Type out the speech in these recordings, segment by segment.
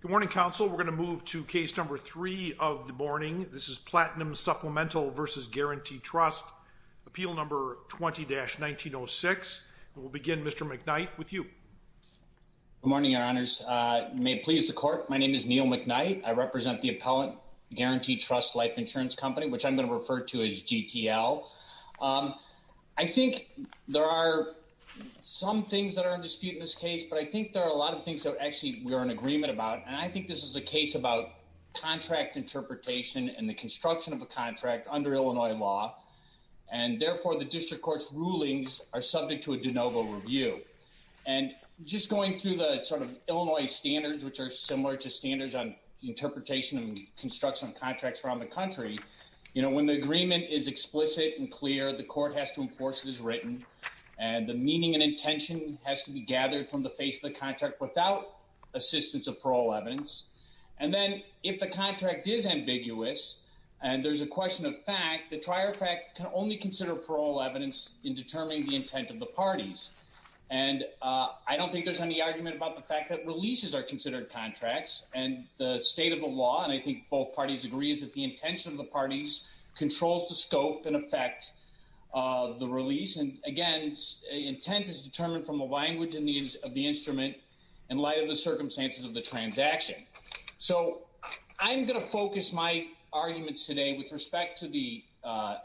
Good morning, counsel. We're going to move to case number three of the morning. This is Platinum Supplemental v. Guarantee Trust, appeal number 20-1906. We'll begin, Mr. McKnight, with you. Good morning, your honors. May it please the court, my name is Neil McKnight. I represent the appellant Guarantee Trust Life Insurance Company, which I'm going to refer to as GTL. I think there are some things that are in dispute in this case, but I think there are a lot of things that actually we are in agreement about, and I think this is a case about contract interpretation and the construction of a contract under Illinois law, and therefore the district court's rulings are subject to a de novo review. And just going through the sort of Illinois standards, which are similar to standards on interpretation and construction of contracts around the country, you know, when the agreement is explicit and clear, the court has to enforce it as written, and the meaning and intention has to be assistance of parole evidence. And then if the contract is ambiguous, and there's a question of fact, the trier fact can only consider parole evidence in determining the intent of the parties. And I don't think there's any argument about the fact that releases are considered contracts, and the state of the law, and I think both parties agree, is that the intention of the parties controls the scope and effect of the release. And again, intent is determined from the instrument in light of the circumstances of the transaction. So I'm going to focus my arguments today with respect to the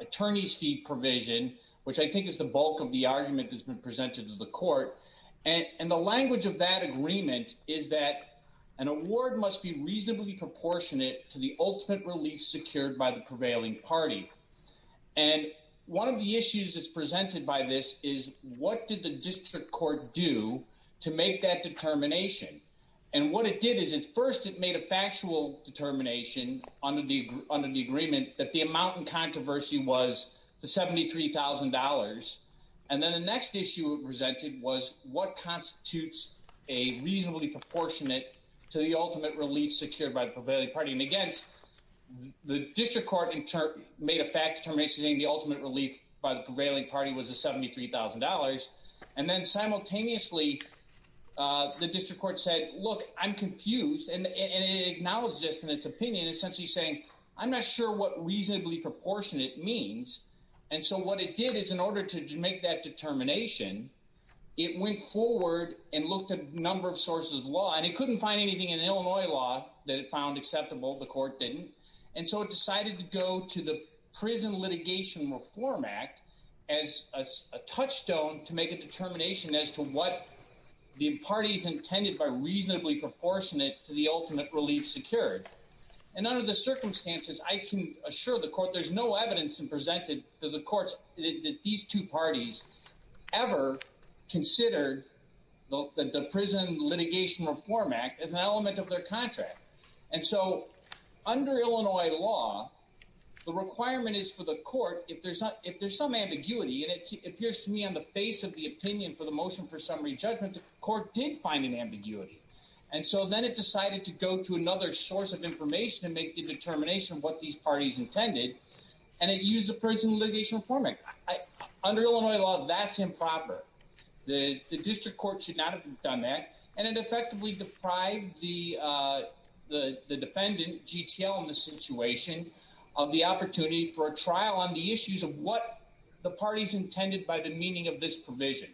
attorney's fee provision, which I think is the bulk of the argument that's been presented to the court. And the language of that agreement is that an award must be reasonably proportionate to the ultimate release secured by the prevailing party. And one of the issues that's presented by this is, what did the district court do to make that determination? And what it did is, first it made a factual determination under the agreement that the amount in controversy was the $73,000, and then the next issue it presented was, what constitutes a reasonably proportionate to the ultimate relief secured by the prevailing party? And again, the district court made a fact determination saying the ultimate relief by the prevailing party was $73,000. And then simultaneously, the district court said, look, I'm confused. And it acknowledged this in its opinion, essentially saying, I'm not sure what reasonably proportionate means. And so what it did is, in order to make that determination, it went forward and looked at a number of sources of law, and it couldn't find anything in Illinois law that it found acceptable. The court didn't. And so it decided to go to the Prison Litigation Reform Act as a touchstone to make a determination as to what the parties intended by reasonably proportionate to the ultimate relief secured. And under the circumstances, I can assure the court there's no evidence presented to the courts that these two parties ever considered the Prison Litigation Reform Act as an element of their contract. And so under Illinois law, the court, if there's some ambiguity, and it appears to me on the face of the opinion for the motion for summary judgment, the court did find an ambiguity. And so then it decided to go to another source of information and make the determination of what these parties intended, and it used the Prison Litigation Reform Act. Under Illinois law, that's improper. The district court should not have done that, and it effectively deprived the defendant, GTL, in this situation of the opportunity for a trial on the issues of what the parties intended by the meaning of this provision.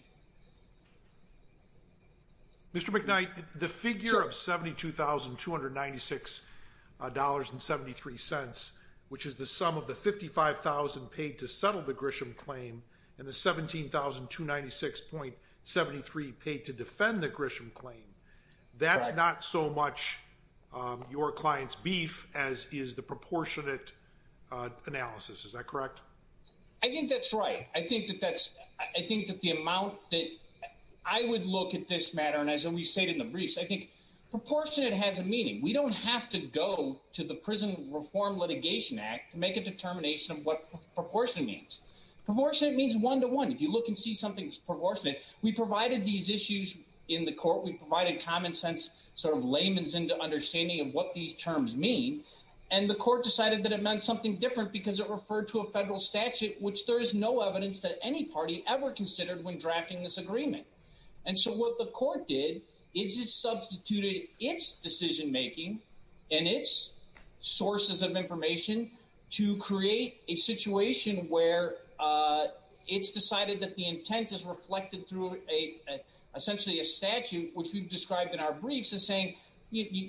Mr. McKnight, the figure of $72,296.73, which is the sum of the $55,000 paid to settle the Grisham claim and the $17,296.73 paid to defend the Grisham claim, that's not so much your client's beef as is the proportionate analysis. Is that correct? I think that's right. I think that the amount that I would look at this matter, and as we said in the briefs, I think proportionate has a meaning. We don't have to go to the Prison Reform Litigation Act to make a determination of what proportionate means. Proportionate means one-to-one. If you look and see something's proportionate, we provided these issues in the court. We provided common sense sort of layman's understanding of what these terms mean, and the court decided that it meant something different because it referred to a federal statute, which there is no evidence that any party ever considered when drafting this agreement. And so what the court did is it substituted its decision-making and its sources of information to create a situation where it's decided that the intent is reflected through essentially a statute, which we've seen.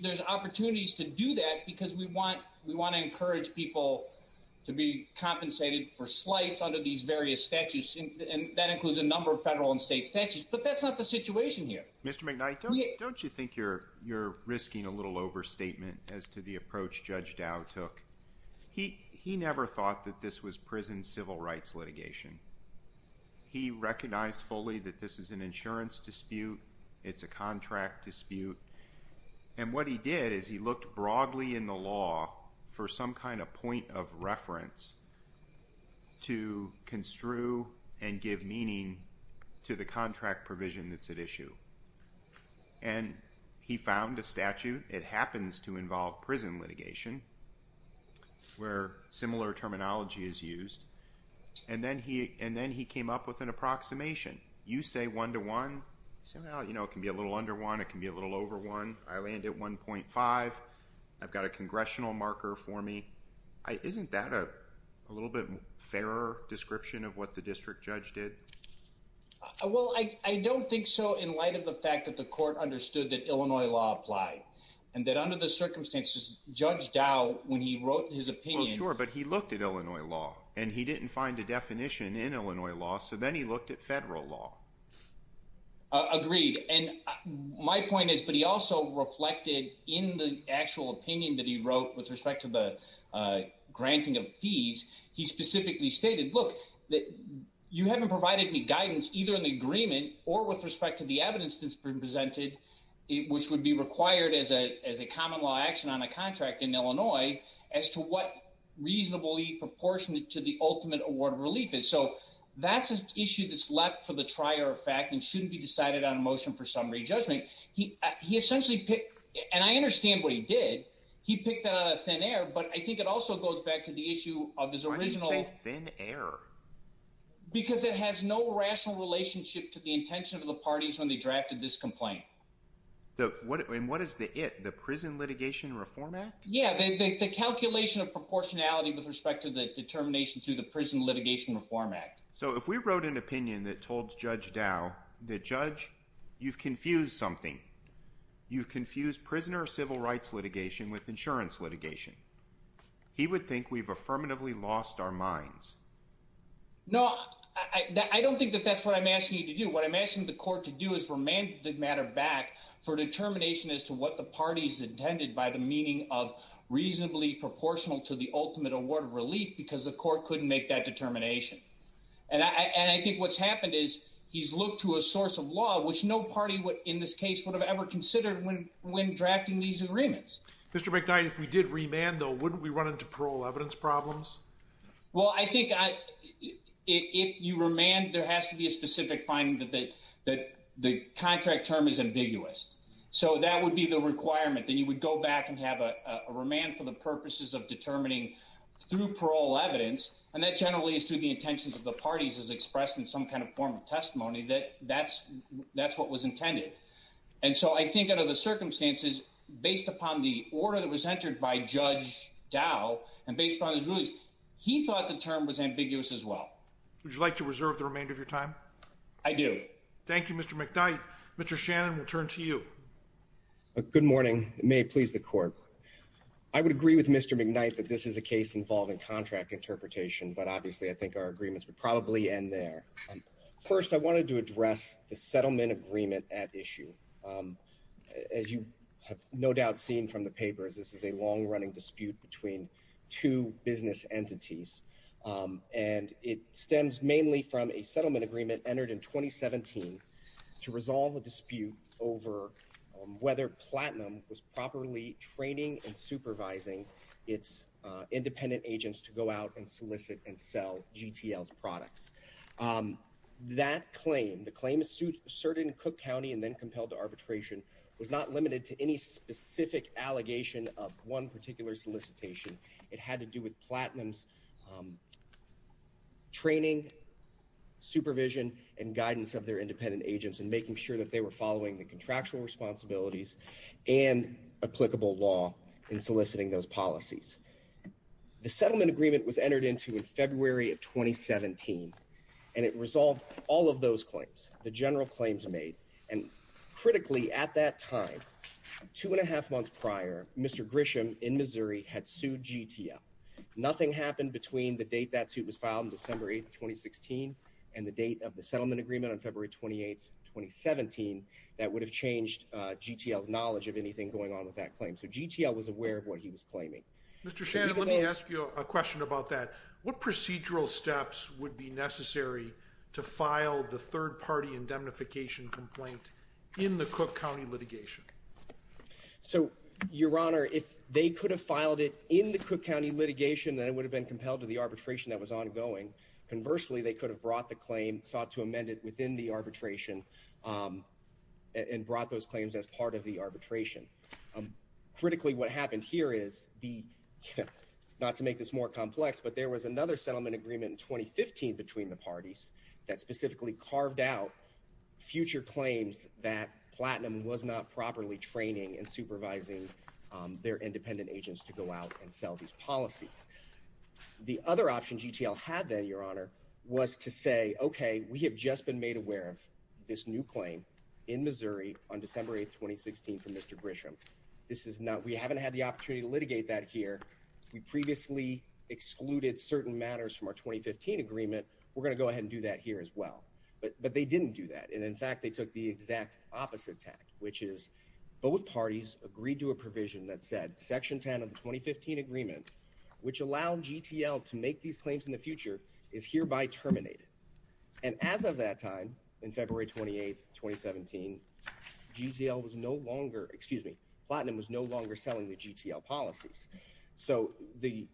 There's opportunities to do that because we want to encourage people to be compensated for slights under these various statutes, and that includes a number of federal and state statutes, but that's not the situation here. Mr. McKnight, don't you think you're risking a little overstatement as to the approach Judge Dow took? He never thought that this was prison civil rights litigation. He recognized fully that this is an insurance dispute. It's a contract dispute. And what he did is he looked broadly in the law for some kind of point of reference to construe and give meaning to the contract provision that's at issue. And he found a statute. It happens to involve prison litigation where similar terminology is used. And then he came up with an approximation. You say one-to-one. He said, well, you know, it can be a little under one. It can be a little over one. I land at 1.5. I've got a congressional marker for me. Isn't that a little bit fairer description of what the district judge did? Well, I don't think so in light of the fact that the court understood that Illinois law applied and that under the circumstances, Judge Dow, when he wrote his opinion... Well, sure, but he looked at Illinois law, and he didn't find a definition in Illinois law, so then he looked at federal law. Agreed. And my point is, but he also reflected in the actual opinion that he wrote with respect to the granting of fees, he specifically stated, look, you haven't provided me guidance either in the agreement or with respect to the evidence that's been presented, which would be required as a common law action on a contract in Illinois as to what reasonably proportionate to the ultimate award of relief is. That's an issue that's left for the trier of fact and shouldn't be decided on a motion for summary judgment. He essentially picked... And I understand what he did. He picked that out of thin air, but I think it also goes back to the issue of his original... Why do you say thin air? Because it has no rational relationship to the intention of the parties when they drafted this complaint. And what is the it? The Prison Litigation Reform Act? Yeah, the calculation of proportionality with respect to the determination through the Prison Litigation Reform Act. So if we wrote an opinion that told Judge Dow that, Judge, you've confused something. You've confused prisoner of civil rights litigation with insurance litigation. He would think we've affirmatively lost our minds. No, I don't think that that's what I'm asking you to do. What I'm asking the court to do is remand the matter back for determination as to what the parties intended by the meaning of reasonably proportional to the ultimate award of relief because the parties intended to do that. And I think what's happened is he's looked to a source of law, which no party in this case would have ever considered when drafting these agreements. Mr. McKnight, if we did remand, though, wouldn't we run into parole evidence problems? Well, I think if you remand, there has to be a specific finding that the contract term is ambiguous. So that would be the requirement that you would go back and have a remand for the purposes of determining through the intentions of the parties as expressed in some kind of form of testimony that that's what was intended. And so I think under the circumstances, based upon the order that was entered by Judge Dow and based on his rulings, he thought the term was ambiguous as well. Would you like to reserve the remainder of your time? I do. Thank you, Mr. McKnight. Mr. Shannon, we'll turn to you. Good morning. May it please the court. I would agree with Mr. McKnight that this is a case involving contract interpretation, but obviously I think our agreements would probably end there. First, I wanted to address the settlement agreement at issue. As you have no doubt seen from the papers, this is a long-running dispute between two business entities, and it stems mainly from a settlement agreement entered in 2017 to resolve a dispute over whether Platinum was properly training and supervising its independent agents to go out and solicit and sell GTL's products. That claim, the claim asserted in Cook County and then compelled to arbitration, was not limited to any specific allegation of one particular solicitation. It had to do with Platinum's training, supervision, and guidance of their independent agents and making sure that they were fulfilling contractual responsibilities and applicable law in soliciting those policies. The settlement agreement was entered into in February of 2017, and it resolved all of those claims, the general claims made. And critically, at that time, two and a half months prior, Mr. Grisham in Missouri had sued GTL. Nothing happened between the date that suit was filed on December 8, 2016, and the date of the settlement agreement on December 8, 2016, and the date of the settlement agreement on December 8, 2016. So nothing had changed GTL's knowledge of anything going on with that claim. So GTL was aware of what he was claiming. Mr. Shannon, let me ask you a question about that. What procedural steps would be necessary to file the third-party indemnification complaint in the Cook County litigation? So, Your Honor, if they could have filed it in the Cook County litigation, then it would have been compelled to the arbitration that was ongoing. Conversely, they could have brought the claim, sought to amend it within the arbitration, and brought those claims as part of the arbitration. Critically, what happened here is the, not to make this more complex, but there was another settlement agreement in 2015 between the parties that specifically carved out future claims that Platinum was not properly training and supervising their independent agents to go out and sell these policies. The other option GTL had then, Your Honor, was to say, okay, we have just been made aware of this new claim in Missouri on December 8, 2016, from Mr. Grisham. This is not, we haven't had the opportunity to litigate that here. We previously excluded certain matters from our 2015 agreement. We're going to go ahead and do that here as well. But they didn't do that. And in fact, they took the exact opposite tact, which is both parties agreed to a provision that said section 10 of the 2015 agreement, which allowed GTL to make these claims in the future, is hereby terminated. And as of that time, in February 28, 2017, GTL was no longer, excuse me, Platinum was no longer selling the GTL policies. So the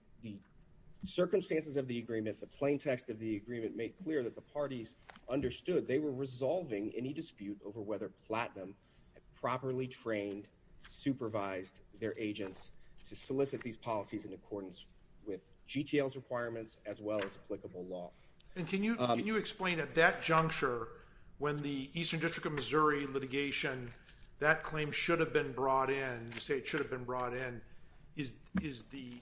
circumstances of the agreement, the plain text of the agreement made clear that the parties understood they were resolving any dispute over whether Platinum had properly trained, supervised their agents to solicit these policies in accordance with GTL's requirements as well as applicable law. And can you, can you explain at that juncture, when the Eastern District of Missouri litigation, that claim should have been brought in, you say it should have been brought in, is, is the,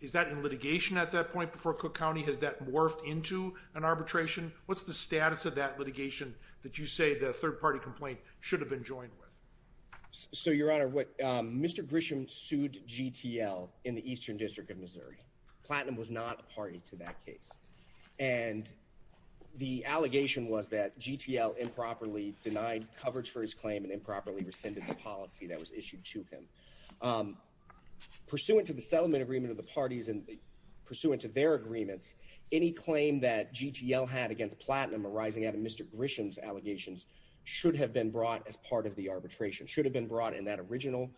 is that in litigation at that point before Cook County? Has that morphed into an arbitration? What's the status of that litigation that you say the third party complaint should have been joined with? So, Your Honor, what, Mr. Grisham sued GTL in the Eastern District of Missouri. Platinum was not a party to that case. And the allegation was that GTL improperly denied coverage for his claim and improperly rescinded the policy that was issued to him. Pursuant to the settlement agreement of the parties and pursuant to their agreements, any claim that GTL had against Platinum arising out of Mr. Grisham's allegations should have been brought as part of the arbitration, should have been brought in that original,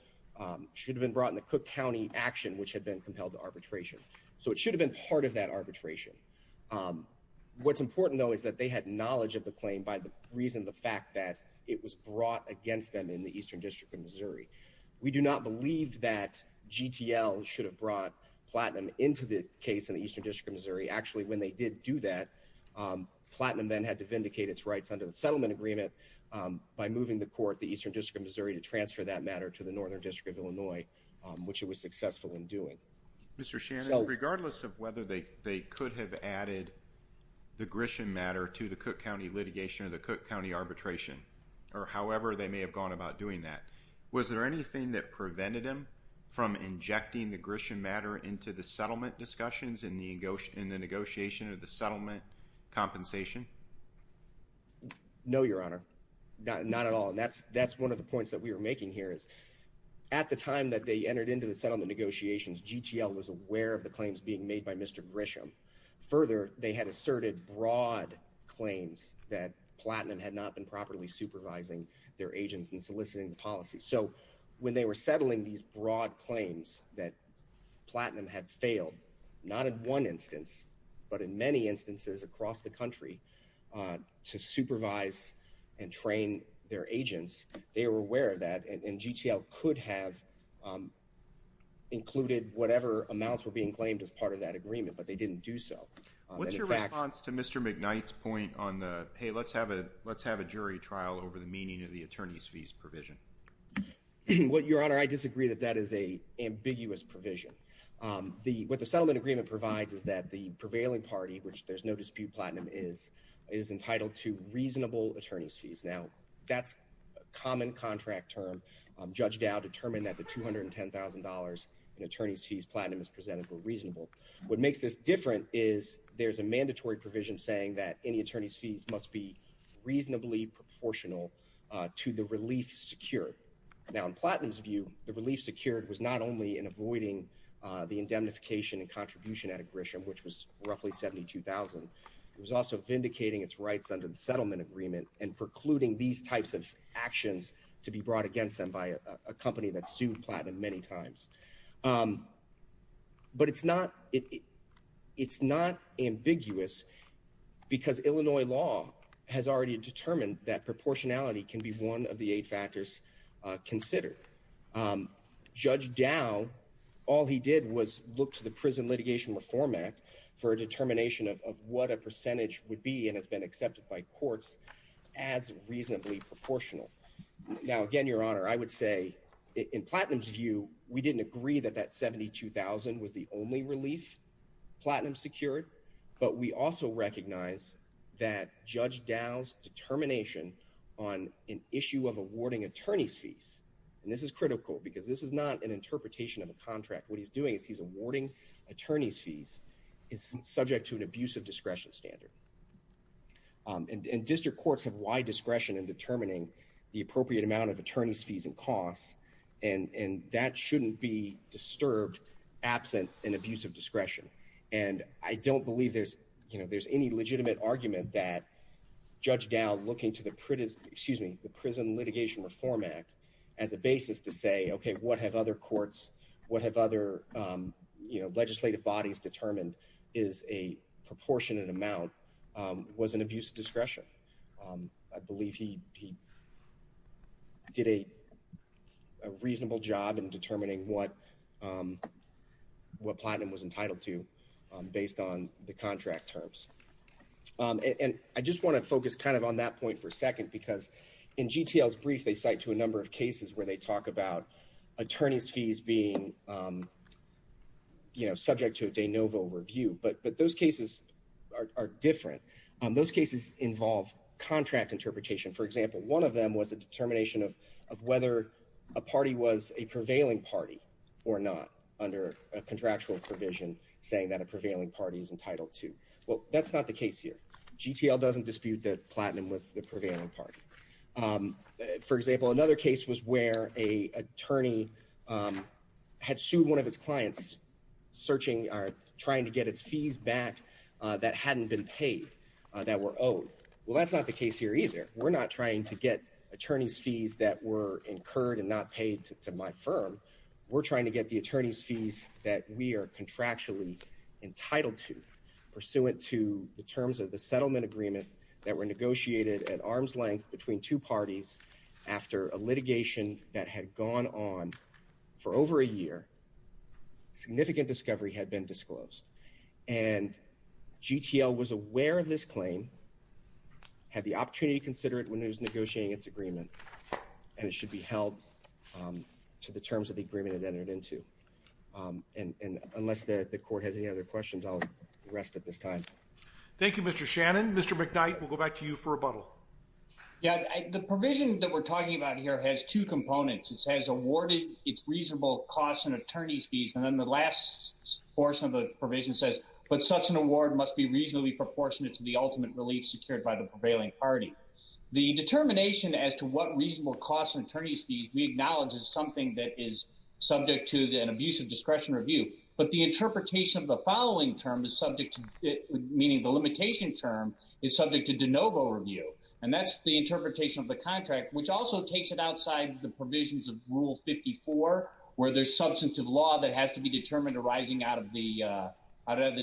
should have been brought in the Cook County action, which had been compelled to arbitration. So it should have been part of that arbitration. What's important though, is that they had knowledge of the claim by the reason, the fact that it was brought against them in the Eastern District of Missouri. We do not believe that GTL should have brought Platinum into the case in the Eastern District of Missouri. Actually, when they did do that, Platinum then had to vindicate its rights under the settlement agreement by moving the court, the Eastern District of Missouri, to transfer that matter to the Northern District of Illinois, which it was successful in doing. Mr. Shannon, regardless of whether they could have added the Grisham matter to the Cook County litigation or the Cook County arbitration, or however they may have gone about doing that, was there anything that prevented him from injecting the Grisham matter into the settlement discussions in the negotiation or the settlement compensation? No, Your Honor. Not at all. And that's one of the points that we were making here, is at the time that they entered into the settlement negotiations, GTL was aware of the claims being made by Mr. Grisham. Further, they had asserted broad claims that Platinum had not been properly supervising their agents and soliciting the policy. So when they were settling these broad claims that Platinum had failed, not in one instance, but in many instances across the country, to supervise and train their agents, they were aware of that and GTL could have included whatever amounts were being claimed as part of that agreement, but they didn't do so. What's your response to Mr. McKnight's point on the, hey, let's have a jury trial over the meaning of the attorney's fees provision? Well, Your Honor, I disagree that that is an ambiguous provision. What the settlement agreement provides is that prevailing party, which there's no dispute Platinum is, is entitled to reasonable attorney's fees. Now, that's a common contract term. Judge Dow determined that the $210,000 in attorney's fees Platinum is presented were reasonable. What makes this different is there's a mandatory provision saying that any attorney's fees must be reasonably proportional to the relief secured. Now, in Platinum's view, the relief secured was not only in avoiding the indemnification and roughly $72,000, it was also vindicating its rights under the settlement agreement and precluding these types of actions to be brought against them by a company that sued Platinum many times. But it's not, it's not ambiguous because Illinois law has already determined that proportionality can be one of the eight factors considered. Judge Dow, all he did was look to the for a determination of what a percentage would be and has been accepted by courts as reasonably proportional. Now, again, Your Honor, I would say in Platinum's view, we didn't agree that that $72,000 was the only relief Platinum secured, but we also recognize that Judge Dow's determination on an issue of awarding attorney's fees, and this is critical because this is not an interpretation of a contract. What he's doing is he's awarding attorney's fees is subject to an abuse of discretion standard. And district courts have wide discretion in determining the appropriate amount of attorney's fees and costs, and that shouldn't be disturbed absent an abuse of discretion. And I don't believe there's, you know, there's any legitimate argument that Judge Dow looking to the, excuse me, the Prison Litigation Reform Act as a basis to say, okay, what have other courts, what have other, you know, legislative bodies determined is a proportionate amount was an abuse of discretion. I believe he did a reasonable job in determining what Platinum was entitled to based on the contract terms. And I just want to focus kind of on that point for a second because in GTL's brief, they cite to a number of cases where they talk about attorney's fees being you know, subject to a de novo review. But those cases are different. Those cases involve contract interpretation. For example, one of them was a determination of whether a party was a prevailing party or not under a contractual provision saying that a prevailing party is entitled to. Well, that's not the case here. GTL doesn't dispute that Platinum was the prevailing party. For example, another case was where a attorney had sued one of its clients searching or trying to get its fees back that hadn't been paid that were owed. Well, that's not the case here either. We're not trying to get attorney's fees that were incurred and not paid to my firm. We're trying to get the attorney's fees that we are contractually entitled to pursuant to the settlement agreement that were negotiated at arm's length between two parties after a litigation that had gone on for over a year. Significant discovery had been disclosed. And GTL was aware of this claim, had the opportunity to consider it when it was negotiating its agreement, and it should be held to the terms of the agreement it entered into. And unless the court has any other questions, I'll rest at this time. Thank you, Mr. Shannon. Mr. McKnight, we'll go back to you for rebuttal. Yeah, the provision that we're talking about here has two components. It says, awarded its reasonable costs and attorney's fees. And then the last portion of the provision says, but such an award must be reasonably proportionate to the ultimate relief secured by the prevailing party. The determination as to what reasonable costs and attorney's fees we acknowledge is something that is subject to an abusive discretion review. But the interpretation of the following term is subject, meaning the limitation term, is subject to de novo review. And that's the interpretation of the contract, which also takes it outside the provisions of Rule 54, where there's substantive law that has to be determined arising out of the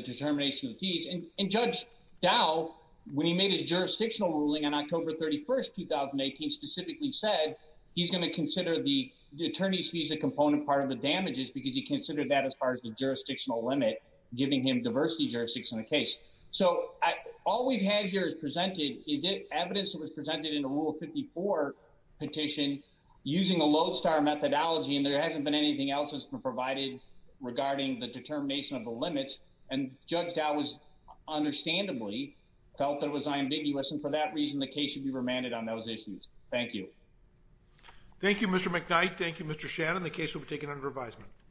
determination of fees. And Judge Dow, when he made his jurisdictional ruling on October 31st, 2018, specifically said he's going to consider the attorney's fees a component part of the damages because he considered that as far as the jurisdictional limit, giving him diversity jurisdiction in the case. So all we've had here is presented is evidence that was presented in a Rule 54 petition using a lodestar methodology, and there hasn't been anything else that's been provided regarding the determination of the limits. And Judge Dow understandably felt that it was ambiguous. And for that reason, the case should be remanded on those issues. Thank you. Thank you, Mr. McKnight. Thank you, Mr. Shannon. The case will be taken under advisement.